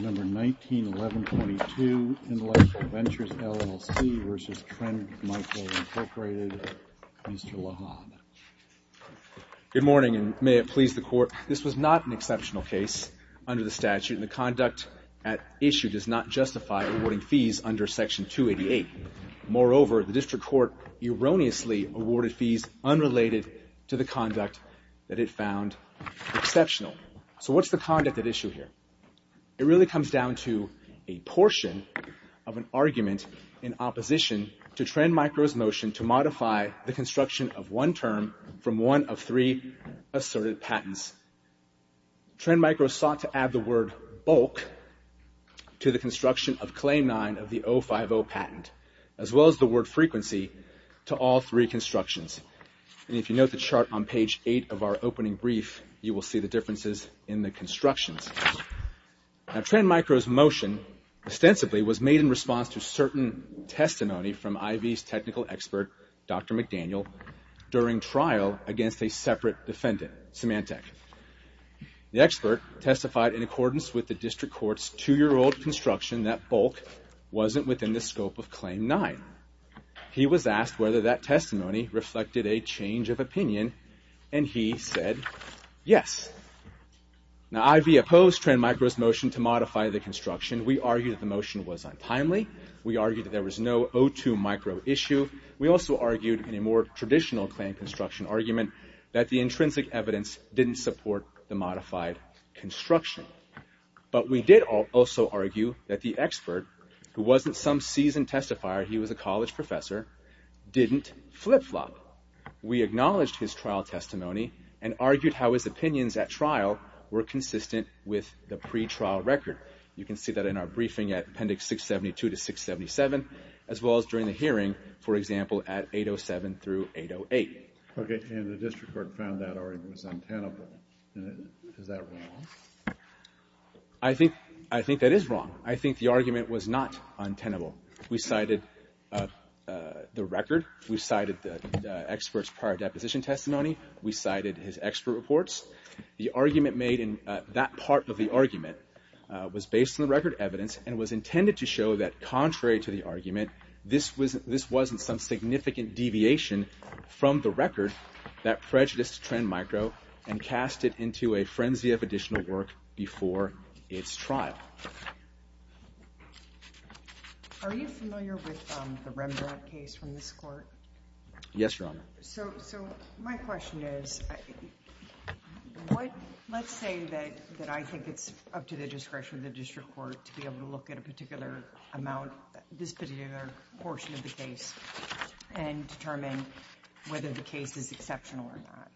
Number 191122, Intellectual Ventures LLC v. Trend Micro Incorporated, Mr. Lahab. Good morning, and may it please the Court. This was not an exceptional case under the statute, and the conduct at issue does not justify awarding fees under Section 288. Moreover, the District Court erroneously awarded fees unrelated to the conduct that it found exceptional. So what's the conduct at issue here? It really comes down to a portion of an argument in opposition to Trend Micro's motion to modify the construction of one term from one of three asserted patents. Trend Micro sought to add the word bulk to the construction of Claim 9 of the 050 patent, as well as the word frequency to all three constructions. And if you note the chart on page 8 of our opening brief, you will see the differences in the constructions. Now, Trend Micro's motion, ostensibly, was made in response to certain testimony from IV's technical expert, Dr. McDaniel, during trial against a separate defendant, Symantec. The expert testified in accordance with the District Court's two-year-old construction that bulk wasn't within the scope of Claim 9. He was asked whether that testimony reflected a change of opinion, and he said yes. Now, IV opposed Trend Micro's motion to modify the construction. We argued that the motion was untimely. We argued that there was no O2 micro issue. We also argued, in a more traditional claim construction argument, that the intrinsic evidence didn't support the modified construction. But we did also argue that the expert, who wasn't some seasoned testifier, he was a college professor, didn't flip-flop. We acknowledged his trial testimony and argued how his opinions at trial were consistent with the pretrial record. You can see that in our briefing at Appendix 672 to 677, as well as during the hearing, for example, at 807 through 808. Okay, and the District Court found that argument was untenable. Is that wrong? I think that is wrong. I think the argument was not untenable. We cited the record. We cited the expert's prior deposition testimony. We cited his expert reports. The argument made in that part of the argument was based on the record evidence and was intended to show that, contrary to the argument, this wasn't some significant deviation from the record, that prejudice to trend micro, and cast it into a frenzy of additional work before its trial. Are you familiar with the Rembrandt case from this Court? Yes, Your Honor. So my question is, let's say that I think it's up to the discretion of the District Court to be able to look at a particular amount, this particular portion of the case, and determine whether the case is exceptional or not.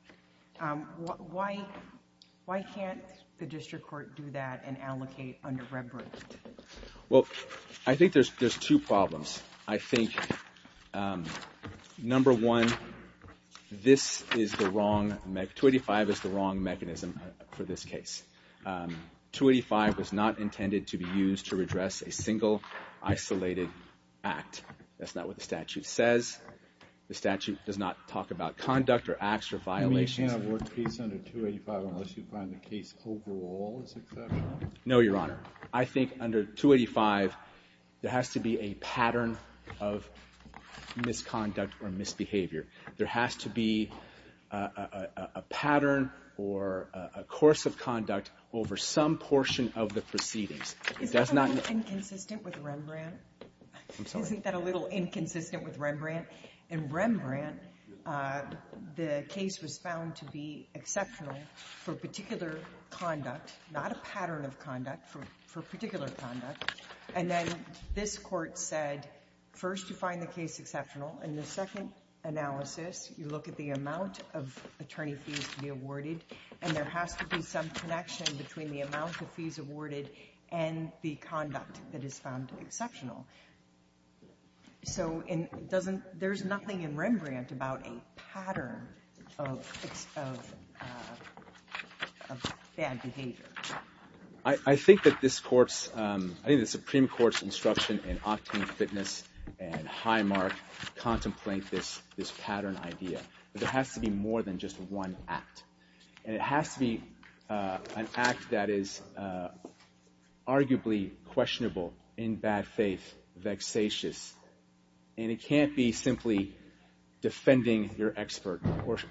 Why can't the District Court do that and allocate under Rembrandt? Well, I think there's two problems. I think, number one, 285 is the wrong mechanism for this case. 285 was not intended to be used to redress a single, isolated act. That's not what the statute says. The statute does not talk about conduct or acts or violations. You mean you can't have work peace under 285 unless you find the case overall is exceptional? No, Your Honor. I think under 285, there has to be a pattern of misconduct or misbehavior. There has to be a pattern or a course of conduct over some portion of the proceedings. It does not need to be. Isn't that a little inconsistent with Rembrandt? I'm sorry? Isn't that a little inconsistent with Rembrandt? In Rembrandt, the case was found to be exceptional for particular conduct, not a pattern of conduct, for particular conduct. And then this Court said, first, you find the case exceptional. In the second analysis, you look at the amount of attorney fees to be awarded, and there has to be some connection between the amount of fees awarded and the conduct that is found exceptional. So it doesn't – there's nothing in Rembrandt about a pattern of bad behavior. I think that this Court's – I think the Supreme Court's instruction in Octane Fitness and Highmark contemplate this pattern idea. But there has to be more than just one act. And it has to be an act that is arguably questionable, in bad faith, vexatious. And it can't be simply defending your expert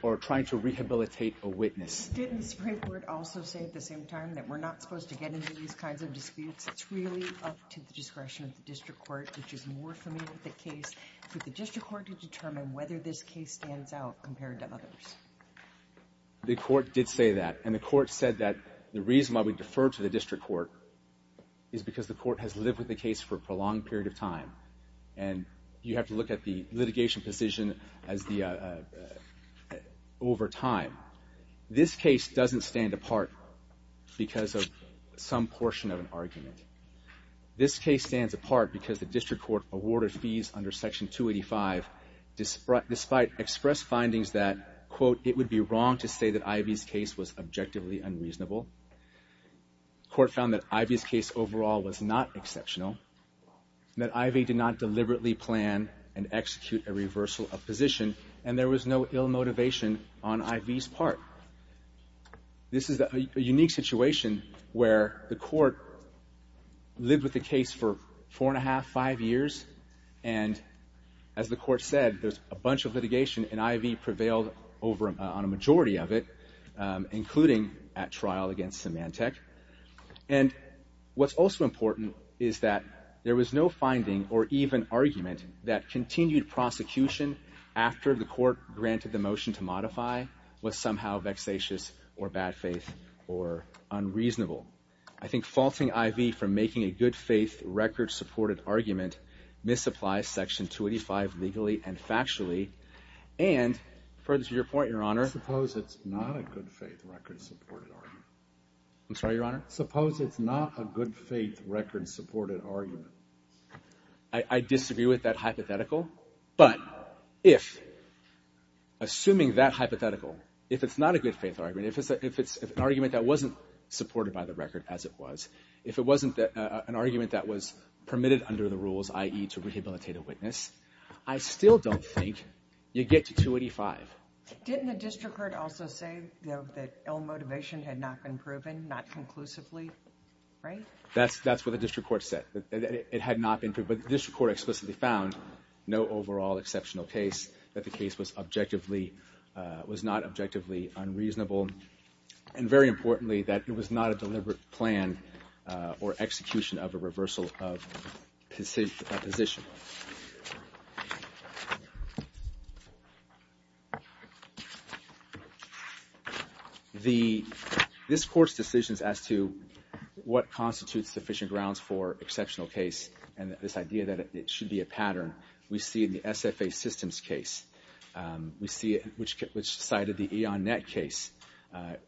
or trying to rehabilitate a witness. Didn't the Supreme Court also say at the same time that we're not supposed to get into these kinds of disputes? It's really up to the discretion of the district court, which is more familiar with the case, for the district court to determine whether this case stands out compared to others. The court did say that. And the court said that the reason why we defer to the district court is because the court has lived with the case for a prolonged period of time. And you have to look at the litigation position as the – over time. This case doesn't stand apart because of some portion of an argument. This case stands apart because the district court awarded fees under Section 285 despite expressed findings that, quote, it would be wrong to say that Ivey's case was objectively unreasonable. The court found that Ivey's case overall was not exceptional, that Ivey did not deliberately plan and execute a reversal of position, and there was no ill motivation on Ivey's part. This is a unique situation where the court lived with the case for four and a half, five years, and as the court said, there's a bunch of litigation, and Ivey prevailed on a majority of it, including at trial against Symantec. And what's also important is that there was no finding or even argument that continued prosecution after the court granted the motion to modify was somehow vexatious or bad faith or unreasonable. I think faulting Ivey for making a good-faith record-supported argument misapplies Section 285 legally and factually. And further to your point, Your Honor— Suppose it's not a good-faith record-supported argument. I'm sorry, Your Honor? Suppose it's not a good-faith record-supported argument. I disagree with that hypothetical, but if, assuming that hypothetical, if it's not a good-faith argument, if it's an argument that wasn't supported by the record as it was, if it wasn't an argument that was permitted under the rules, i.e. to rehabilitate a witness, I still don't think you get to 285. Didn't the district court also say that ill motivation had not been proven, not conclusively, right? That's what the district court said. It had not been proven. The district court explicitly found no overall exceptional case, that the case was not objectively unreasonable, and very importantly, that it was not a deliberate plan or execution of a reversal of position. This Court's decisions as to what constitutes sufficient grounds for exceptional case and this idea that it should be a pattern, we see in the SFA systems case. We see it, which cited the E.O.N. Nett case.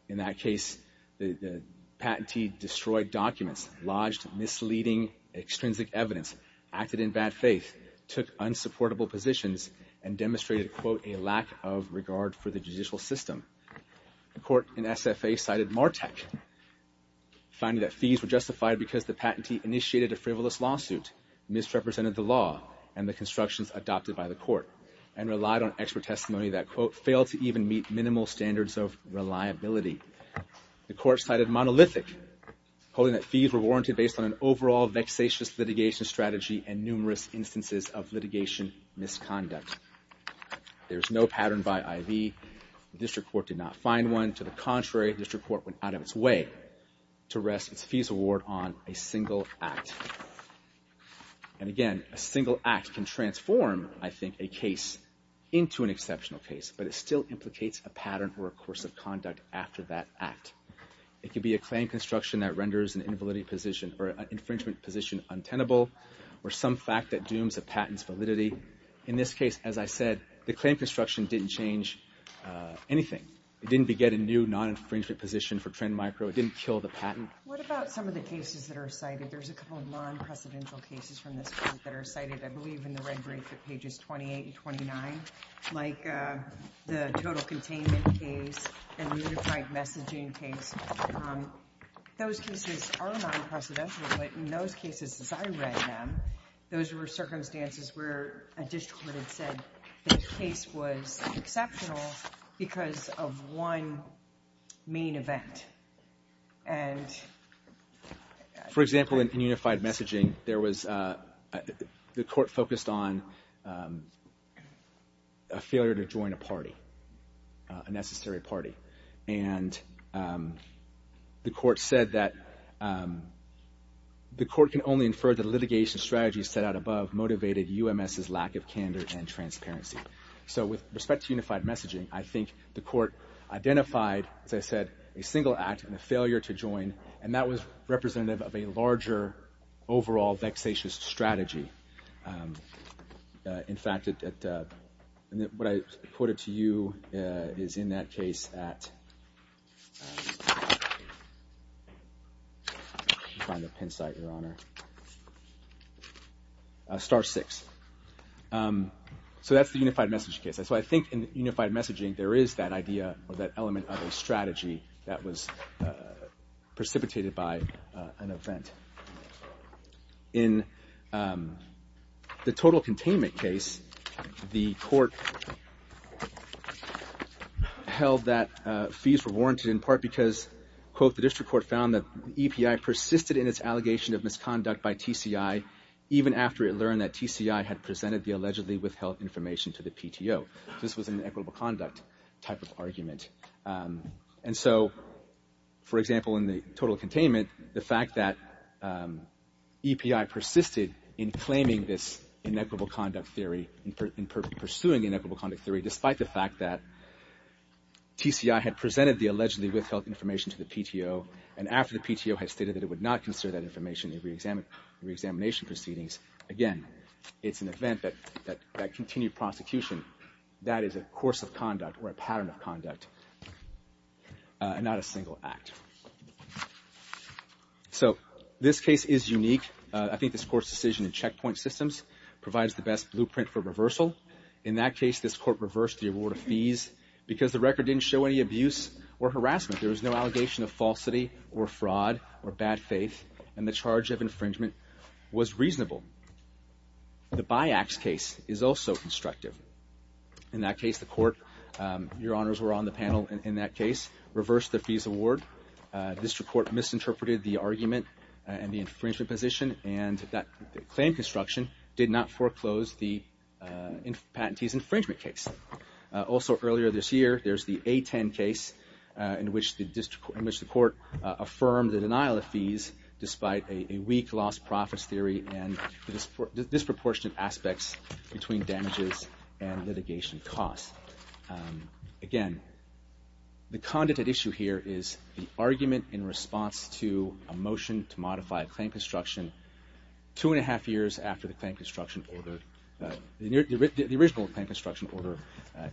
In that case, the patentee destroyed documents, lodged misleading, extrinsic evidence, acted in bad faith, took unsupportable positions, and demonstrated, quote, a lack of regard for the judicial system. The court in SFA cited MARTEC, finding that fees were justified because the patentee initiated a frivolous lawsuit, misrepresented the law, and the constructions adopted by the court, and relied on expert testimony that, quote, failed to even meet minimal standards of reliability. The court cited MONOLITHIC, holding that fees were warranted based on an overall vexatious litigation strategy and numerous instances of litigation misconduct. There's no pattern by I.V. The district court did not find one. To the contrary, the district court went out of its way to rest its fees award on a single act. And again, a single act can transform, I think, a case into an exceptional case, but it still implicates a pattern or a course of conduct after that act. It could be a claim construction that renders an invalidity position or an infringement position untenable, or some fact that dooms a patent's validity. In this case, as I said, the claim construction didn't change anything. It didn't beget a new non-infringement position for Trend Micro. It didn't kill the patent. What about some of the cases that are cited? There's a couple of non-precedential cases from this court that are cited, I believe, in the red brief at pages 28 and 29, like the total containment case and the unified messaging case. Those cases are non-precedential, but in those cases, as I read them, those were circumstances where a district court had said the case was exceptional because of one main event. For example, in unified messaging, the court focused on a failure to join a party, a necessary party. And the court said that the court can only infer that litigation strategies set out above motivated UMS's lack of candor and transparency. So with respect to unified messaging, I think the court identified, as I said, a single act and a failure to join, and that was representative of a larger overall vexatious strategy. In fact, what I quoted to you is in that case at... Let me find the pin site, Your Honor. Star six. So that's the unified messaging case. So I think in unified messaging, there is that idea or that element of a strategy that was precipitated by an event. In the total containment case, the court held that fees were warranted in part because, quote, the district court found that the EPI persisted in its allegation of misconduct by TCI even after it learned that TCI had presented the allegedly withheld information to the PTO. This was an equitable conduct type of argument. And so, for example, in the total containment, the fact that EPI persisted in claiming this inequitable conduct theory and pursuing inequitable conduct theory despite the fact that TCI had presented the allegedly withheld information to the PTO and after the PTO had stated that it would not consider that information in the reexamination proceedings, again, it's an event that continued prosecution. That is a course of conduct or a pattern of conduct and not a single act. So this case is unique. I think this court's decision in checkpoint systems provides the best blueprint for reversal. In that case, this court reversed the award of fees because the record didn't show any abuse or harassment. There was no allegation of falsity or fraud or bad faith, and the charge of infringement was reasonable. The BIACS case is also constructive. In that case, the court, your honors were on the panel in that case, reversed the fees award. The district court misinterpreted the argument and the infringement position, and that claim construction did not foreclose the patentee's infringement case. Also earlier this year, there's the A10 case in which the court affirmed the denial of fees despite a weak lost profits theory and disproportionate aspects between damages and litigation costs. Again, the content at issue here is the argument in response to a motion to modify a claim construction two and a half years after the claim construction order, the original claim construction order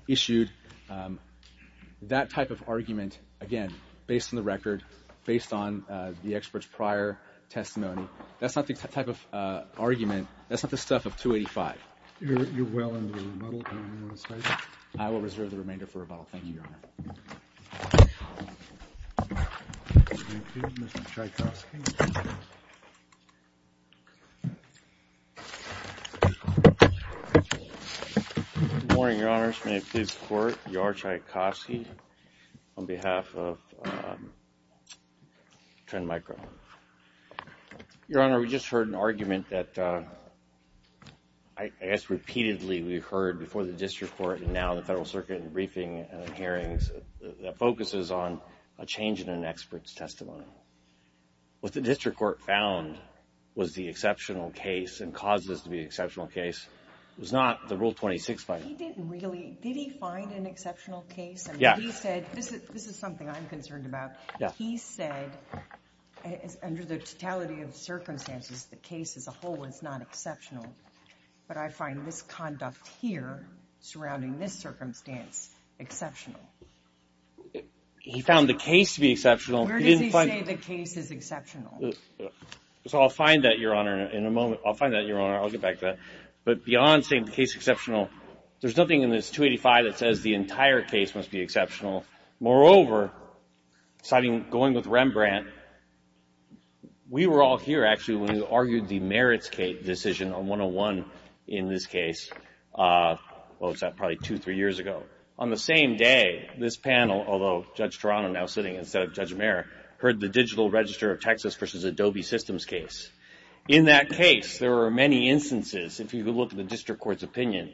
issued. That type of argument, again, based on the record, based on the expert's prior testimony, that's not the type of argument, that's not the stuff of 285. You're well into the rebuttal. Anything you want to say? I will reserve the remainder for rebuttal. Thank you, your honor. Thank you. Mr. Tchaikovsky. Good morning, your honors. May it please the court, Yor Tchaikovsky on behalf of Trend Micro. Your honor, we just heard an argument that I guess repeatedly we've heard before the district court and now the Federal Circuit in briefing hearings that focuses on a change in an expert's testimony. What the district court found was the exceptional case and caused this to be an exceptional case was not the Rule 26 finding. He didn't really. Did he find an exceptional case? Yes. This is something I'm concerned about. He said, under the totality of circumstances, the case as a whole is not exceptional, but I find this conduct here surrounding this circumstance exceptional. He found the case to be exceptional. Where does he say the case is exceptional? I'll find that, your honor, in a moment. I'll find that, your honor. I'll get back to that. But beyond saying the case is exceptional, there's nothing in this 285 that says the entire case must be exceptional. Moreover, going with Rembrandt, we were all here, actually, when we argued the merits case decision on 101 in this case. What was that? Probably two, three years ago. On the same day, this panel, although Judge Toronto now sitting instead of Judge Mayer, heard the Digital Register of Texas versus Adobe Systems case. In that case, there were many instances, if you could look at the district court's opinion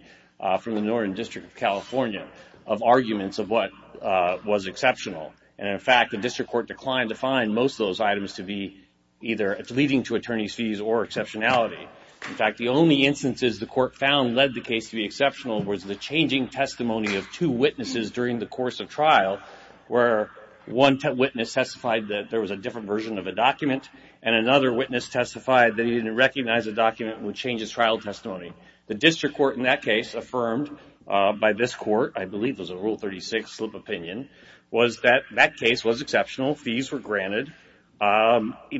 from the Northern District of California of arguments of what was exceptional. And, in fact, the district court declined to find most of those items to be either leading to attorney's fees or exceptionality. In fact, the only instances the court found led the case to be exceptional was the changing testimony of two witnesses during the course of trial where one witness testified that there was a different version of a document and another witness testified that he didn't recognize a document which changes trial testimony. The district court, in that case, affirmed by this court, I believe it was a Rule 36 slip opinion, was that that case was exceptional. Fees were granted,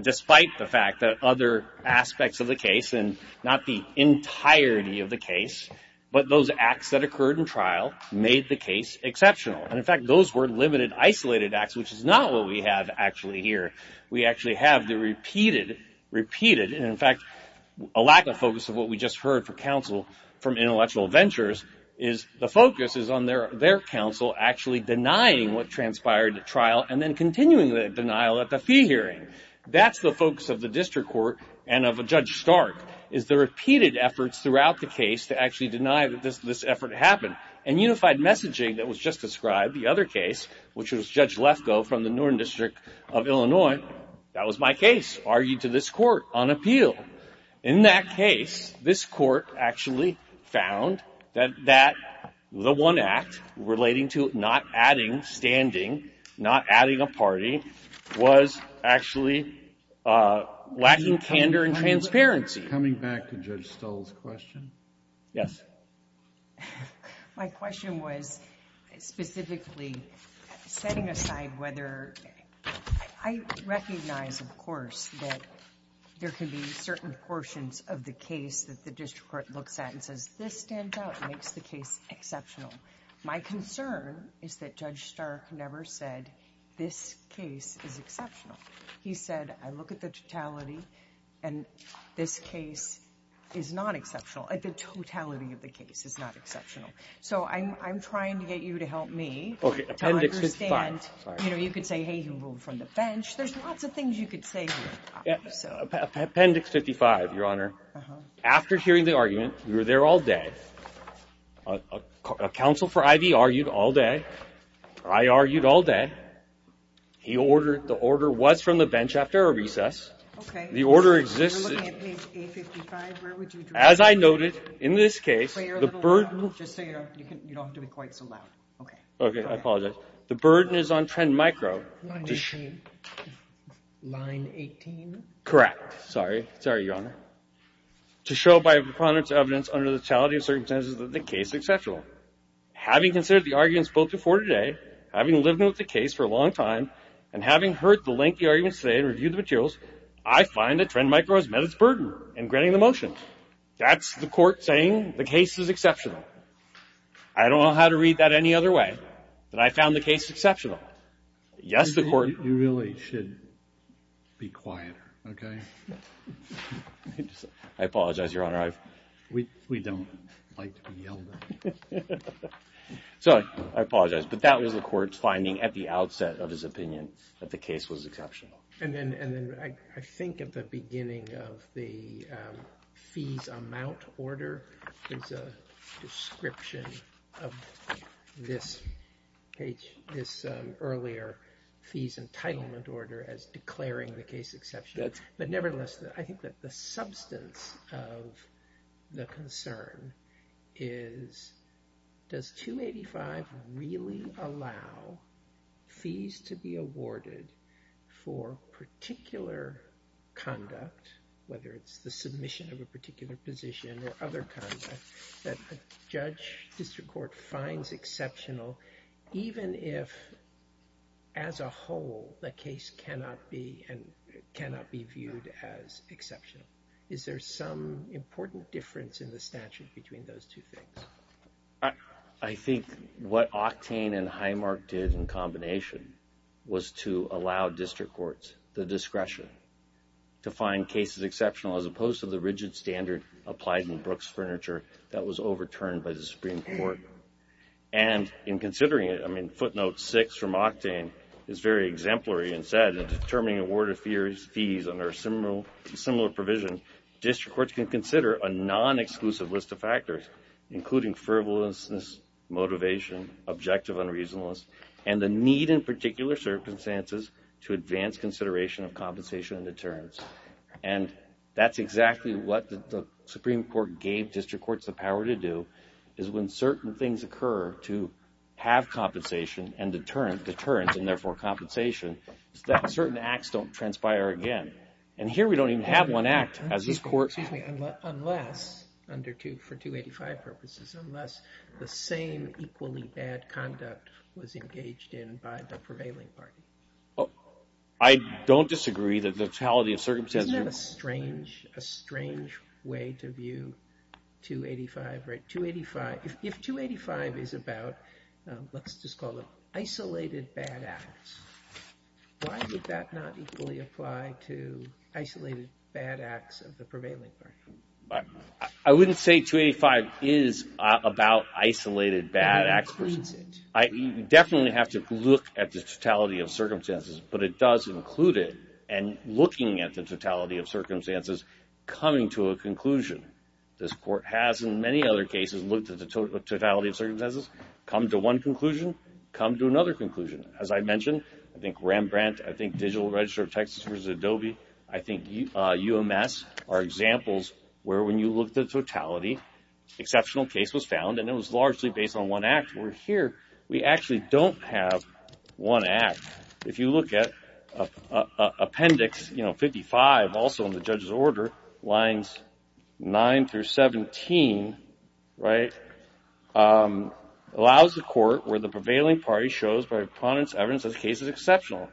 despite the fact that other aspects of the case and not the entirety of the case, but those acts that occurred in trial made the case exceptional. And, in fact, those were limited, isolated acts, which is not what we have actually here. We actually have the repeated, repeated, and, in fact, a lack of focus of what we just heard from counsel from Intellectual Ventures is the focus is on their counsel actually denying what transpired at trial and then continuing the denial at the fee hearing. That's the focus of the district court and of Judge Stark is the repeated efforts throughout the case to actually deny that this effort happened. And Unified Messaging, that was just described, the other case, which was Judge Lefkoe from the Northern District of Illinois, that was my case, argued to this court on appeal. In that case, this court actually found that the one act relating to not adding, not standing, not adding a party was actually lacking candor and transparency. Coming back to Judge Stull's question. Yes. My question was specifically setting aside whether I recognize, of course, that there can be certain portions of the case that the district court looks at and says, this stands out, makes the case exceptional. My concern is that Judge Stark never said this case is exceptional. He said, I look at the totality and this case is not exceptional. The totality of the case is not exceptional. So I'm trying to get you to help me to understand. You know, you could say, hey, you moved from the bench. There's lots of things you could say here. Appendix 55, Your Honor. After hearing the argument, we were there all day. A counsel for Ivey argued all day. I argued all day. The order was from the bench after a recess. You're looking at page 855. As I noted, in this case, the burden You don't have to be quite so loud. I apologize. The burden is on Trend Micro. Line 18? Correct. Sorry, Your Honor. To show by preponderance of evidence under the totality of circumstances that the case is exceptional. Having considered the arguments before today, having lived with the case for a long time, and having heard the lengthy arguments today and reviewed the materials, I find that Trend Micro has met its burden in granting the motion. That's the court saying the case is exceptional. I don't know how to read that any other way than I found the case exceptional. Yes, the court You really should be quieter, okay? I apologize, Your Honor. We don't like to be yelled at. So, I apologize. But that was the court's finding at the outset of his opinion that the case was exceptional. And then I think at the beginning of the fees amount order there's a description of this earlier fees entitlement order as declaring the case exceptional. But nevertheless, I think that the substance of the concern is does 285 really allow fees to be awarded for particular conduct, whether it's the submission of a particular position or other conduct that the judge, district court, finds exceptional even if as a whole the case cannot be viewed as exceptional. Is there some important difference in the statute between those two things? I think what Octane and Highmark did in combination was to allow district courts the discretion to find cases exceptional as opposed to the rigid standard applied in Brooks Furniture that was overturned by the Supreme Court. And in considering it, I mean footnote six from Octane is very exemplary and said in determining award of fees under similar provision district courts can consider a non- exclusive list of factors including frivolousness, motivation, objective unreasonableness, and the need in particular circumstances to advance consideration of compensation and deterrence. And that's exactly what the Supreme Court gave district courts the power to do is when certain things occur to have compensation, certain acts don't transpire again. And here we don't even have one act. Excuse me, unless for 285 purposes, unless the same equally bad conduct was engaged in by the prevailing party. I don't disagree that the totality of circumstances... Isn't that a strange way to view 285? If 285 is about let's just call it isolated bad acts, why would that not equally apply to isolated bad acts of the prevailing party? I wouldn't say 285 is about isolated bad acts. You definitely have to look at the totality of circumstances, but it does include it and looking at the totality of circumstances coming to a conclusion. This court has in many other cases looked at the totality of circumstances, come to one conclusion, come to another conclusion. As I mentioned, I think Rembrandt, I think Digital Register of Texas versus Adobe, I think UMS are examples where when you look at the totality, exceptional case was found and it was largely based on one act. Where here we actually don't have one act. If you look at appendix 55 also in the judge's order lines 9 through 17 allows the court where the prevailing party shows by prominent evidence that the case is exceptional.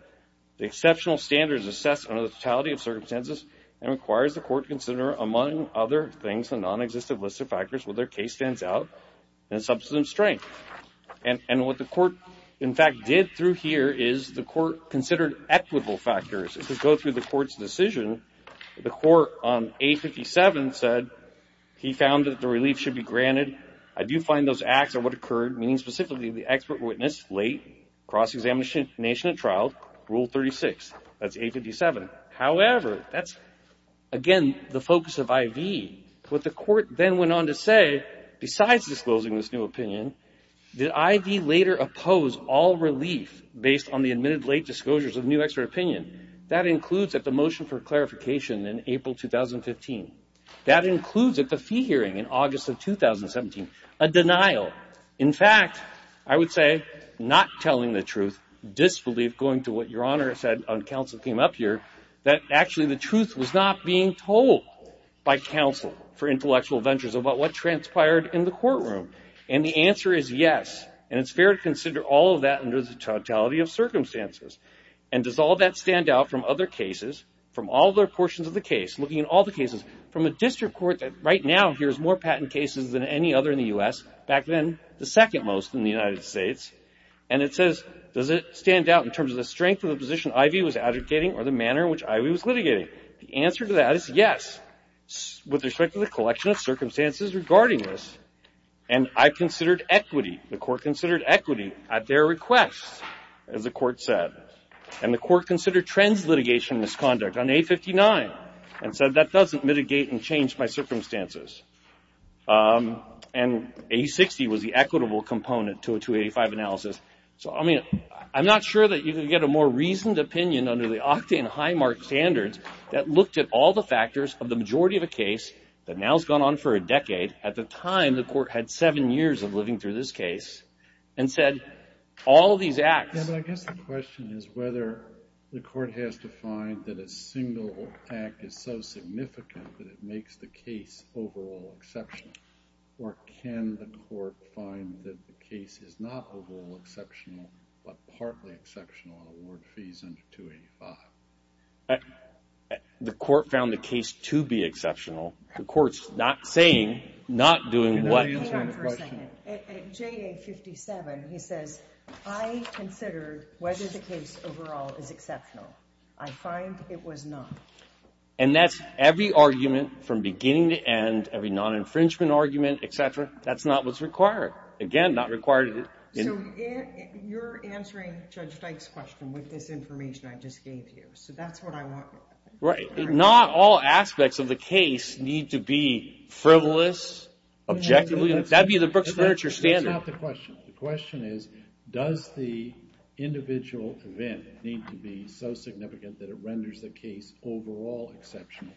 The exceptional standard is assessed under the totality of circumstances and requires the court to consider, among other things, a non-existent list of factors where their case stands out and substantive strength. What the court, in fact, did through here is the court considered equitable factors. If you go through the court's decision, the court on A57 said he found that the relief should be granted. I do find those acts are what occurred meaning specifically the expert witness late, cross-examination and trial, Rule 36. That's A57. However, that's again the focus of IV. What the court then went on to say, besides disclosing this new opinion, that IV later opposed all relief based on the admitted late disclosures of new expert opinion. That includes that the fee hearing in August of 2017, a denial. In fact, I would say not telling the truth, disbelief going to what Your Honor said on counsel came up here, that actually the truth was not being told by counsel for intellectual ventures about what transpired in the courtroom. And the answer is yes. And it's fair to consider all of that under the totality of circumstances. And does all that stand out from other cases, from all their portions of the case, looking at all the cases, from a district court that right now hears more patent cases than any other in the U.S. back then the second most in the United States and it says, does it stand out in terms of the strength of the position IV was advocating or the manner in which IV was litigating? The answer to that is yes. With respect to the collection of circumstances regarding this and I considered equity, the court considered equity at their request as the court said. And the court considered trends litigation and misconduct on A-59 and said that doesn't mitigate and change my circumstances. And A-60 was the equitable component to a 285 analysis. So I mean, I'm not sure that you can get a more reasoned opinion under the Octane Highmark standards that looked at all the factors of the majority of a case that now has gone on for a decade, at the time the court had seven years of living through this case and said all these acts... I guess the question is whether the court has to find that a single act is so significant that it makes the case overall exceptional or can the court find that the case is not overall exceptional but partly exceptional on award fees under 285? The court found the case to be exceptional the court's not saying not doing what... At JA-57 he says, I consider whether the case overall is exceptional. I find it was not. And that's every argument from beginning to end every non-infringement argument, etc. That's not what's required. Again, not required... You're answering Judge Dyke's question with this information I just gave you. So that's what I want. Not all aspects of the case need to be frivolous, objectively... That's not the question. The question is, does the individual event need to be so significant that it renders the case overall exceptional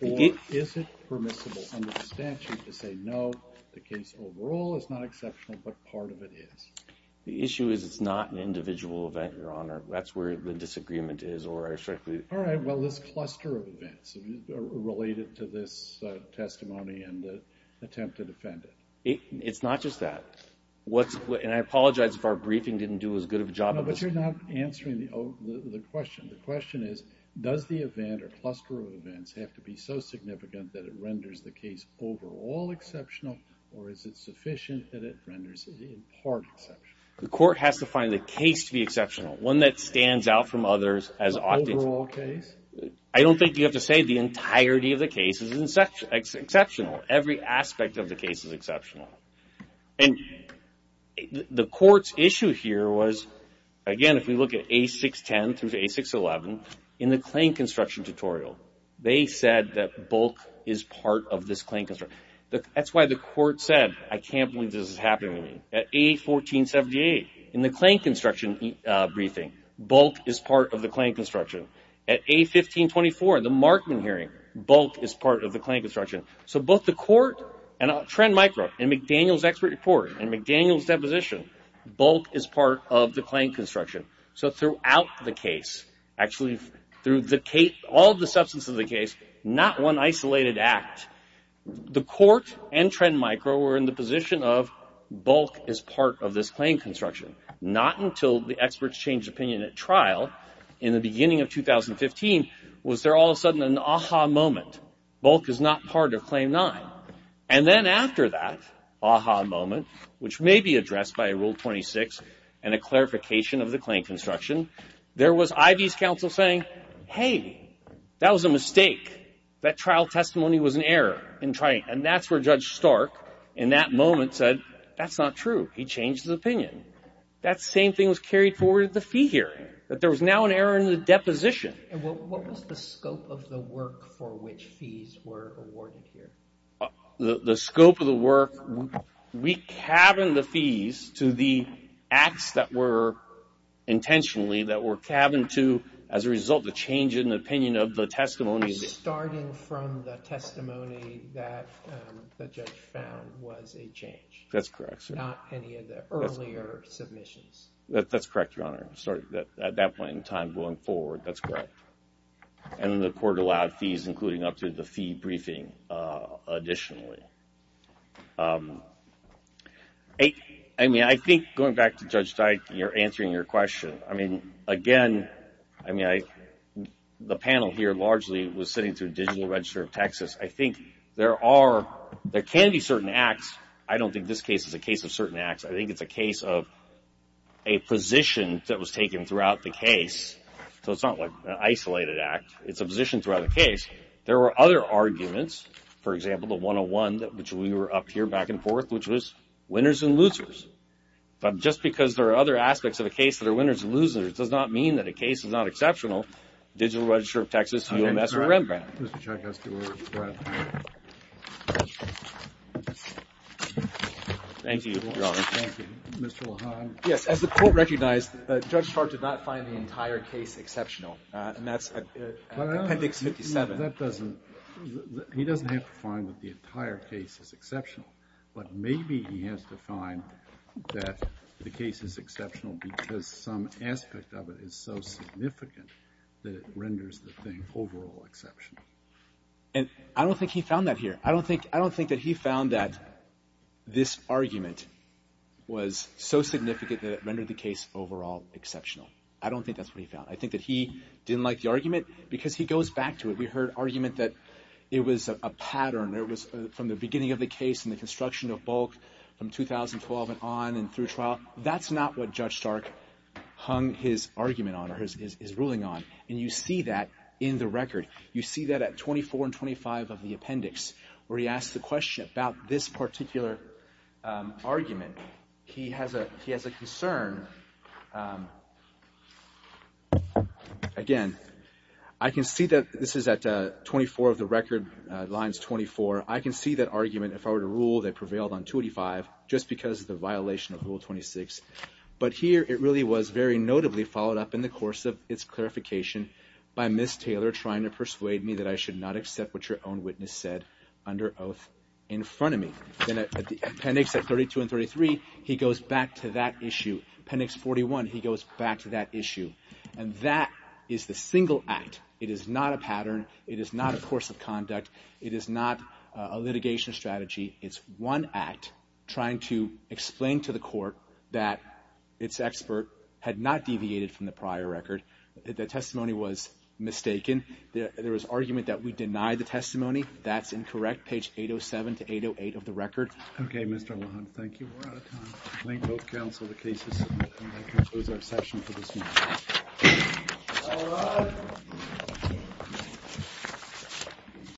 or is it permissible under the statute to say no, the case overall is not exceptional but part of it is? The issue is it's not an individual event Your Honor. That's where the disagreement is or I respectfully... Alright, well this cluster of events related to this testimony and the attempt to defend it. It's not just that. And I apologize if our briefing didn't do as good of a job... No, but you're not answering the question. The question is does the event or cluster of events have to be so significant that it renders the case overall exceptional or is it sufficient that it renders it in part exceptional? The court has to find the case to be exceptional. One that stands out from others as... The overall case? I don't think you have to say the entirety of the case is exceptional. Every aspect of the case is exceptional. And the court's issue here was, again, if we look at A610 through to A611 in the claim construction tutorial they said that bulk is part of this claim construction. That's why the court said I can't believe this is happening to me. At A1478 in the claim construction briefing, bulk is part of the claim construction. At A1524 in the Markman hearing, bulk is part of the claim construction. So both the court and Trend Micro in McDaniel's expert report and McDaniel's deposition bulk is part of the claim construction. So throughout the case, actually through all the substance of the case not one isolated act. The court and Trend Micro were in the position of bulk is part of this claim construction. Not until the experts changed opinion at trial in the beginning of 2015 was there all of a sudden an ah-ha moment. Bulk is not part of Claim 9. And then after that ah-ha moment, which may be addressed by Rule 26 and a clarification of the claim construction, there was Ivey's counsel saying, hey that was a mistake. That trial testimony was an error. And that's where Judge Stark in that moment said, that's not true. He changed his opinion. That same thing was carried forward at the deposition. And what was the scope of the work for which fees were awarded here? The scope of the work we cabined the fees to the acts that were intentionally that were cabined to, as a result, the change in the opinion of the testimony. Starting from the testimony that the judge found was a change. That's correct. Not any of the earlier submissions. That's correct, Your Honor. At that point in time, going forward. That's correct. And the court allowed fees, including up to the fee briefing, additionally. I think, going back to Judge Dyke, you're answering your question. Again, the panel here largely was sitting through Digital Register of Texas. I think there are, there can be certain acts. I don't think this case is a case of certain acts. I think it's a case of a position that was taken throughout the case. So it's not like an isolated act. It's a position throughout the case. There were other arguments. For example, the 101, which we were up here back and forth, which was winners and losers. But just because there are other aspects of a case that are winners and losers does not mean that a case is not exceptional. Digital Register of Texas, UMS, or Rembrandt. Thank you, Your Honor. Thank you. Mr. LaHon? Yes, as the court recognized, Judge Hart did not find the entire case exceptional. And that's at Appendix 57. But that doesn't, he doesn't have to find that the entire case is exceptional. But maybe he has to find that the case is exceptional because some aspect of it is so significant that it renders the thing overall exceptional. And I don't think he found that here. I don't think that he found that this argument was so significant that it rendered the case overall exceptional. I don't think that's what he found. I think that he didn't like the argument because he goes back to it. We heard argument that it was a pattern. It was from the beginning of the case and the construction of bulk from 2012 and on and through trial. That's not what Judge Stark hung his argument on, or his ruling on. And you see that in the record. You see that at 24 and 25 of the appendix where he asks the question about this particular argument. He has a concern. Again, I can see that this is at 24 of the record lines 24. I can see that argument, if I were to rule, that prevailed on 285 just because of the violation of Rule 26. But here it really was very notably followed up in the course of its clarification by Ms. Taylor trying to persuade me that I should not accept what your own witness said under oath in front of me. Then appendix 32 and 33 he goes back to that issue. Appendix 41 he goes back to that issue. And that is the single act. It is not a pattern. It is not a course of conduct. It is not a litigation strategy. It's one act trying to explain to the court that its expert had not deviated from the prior record. The testimony was mistaken. There was argument that we denied the testimony. That's incorrect. Page 807 to 808 of the record. Okay, Mr. LaHunt. Thank you. We're out of time. I thank both counsel for the cases. And that concludes our session for this morning.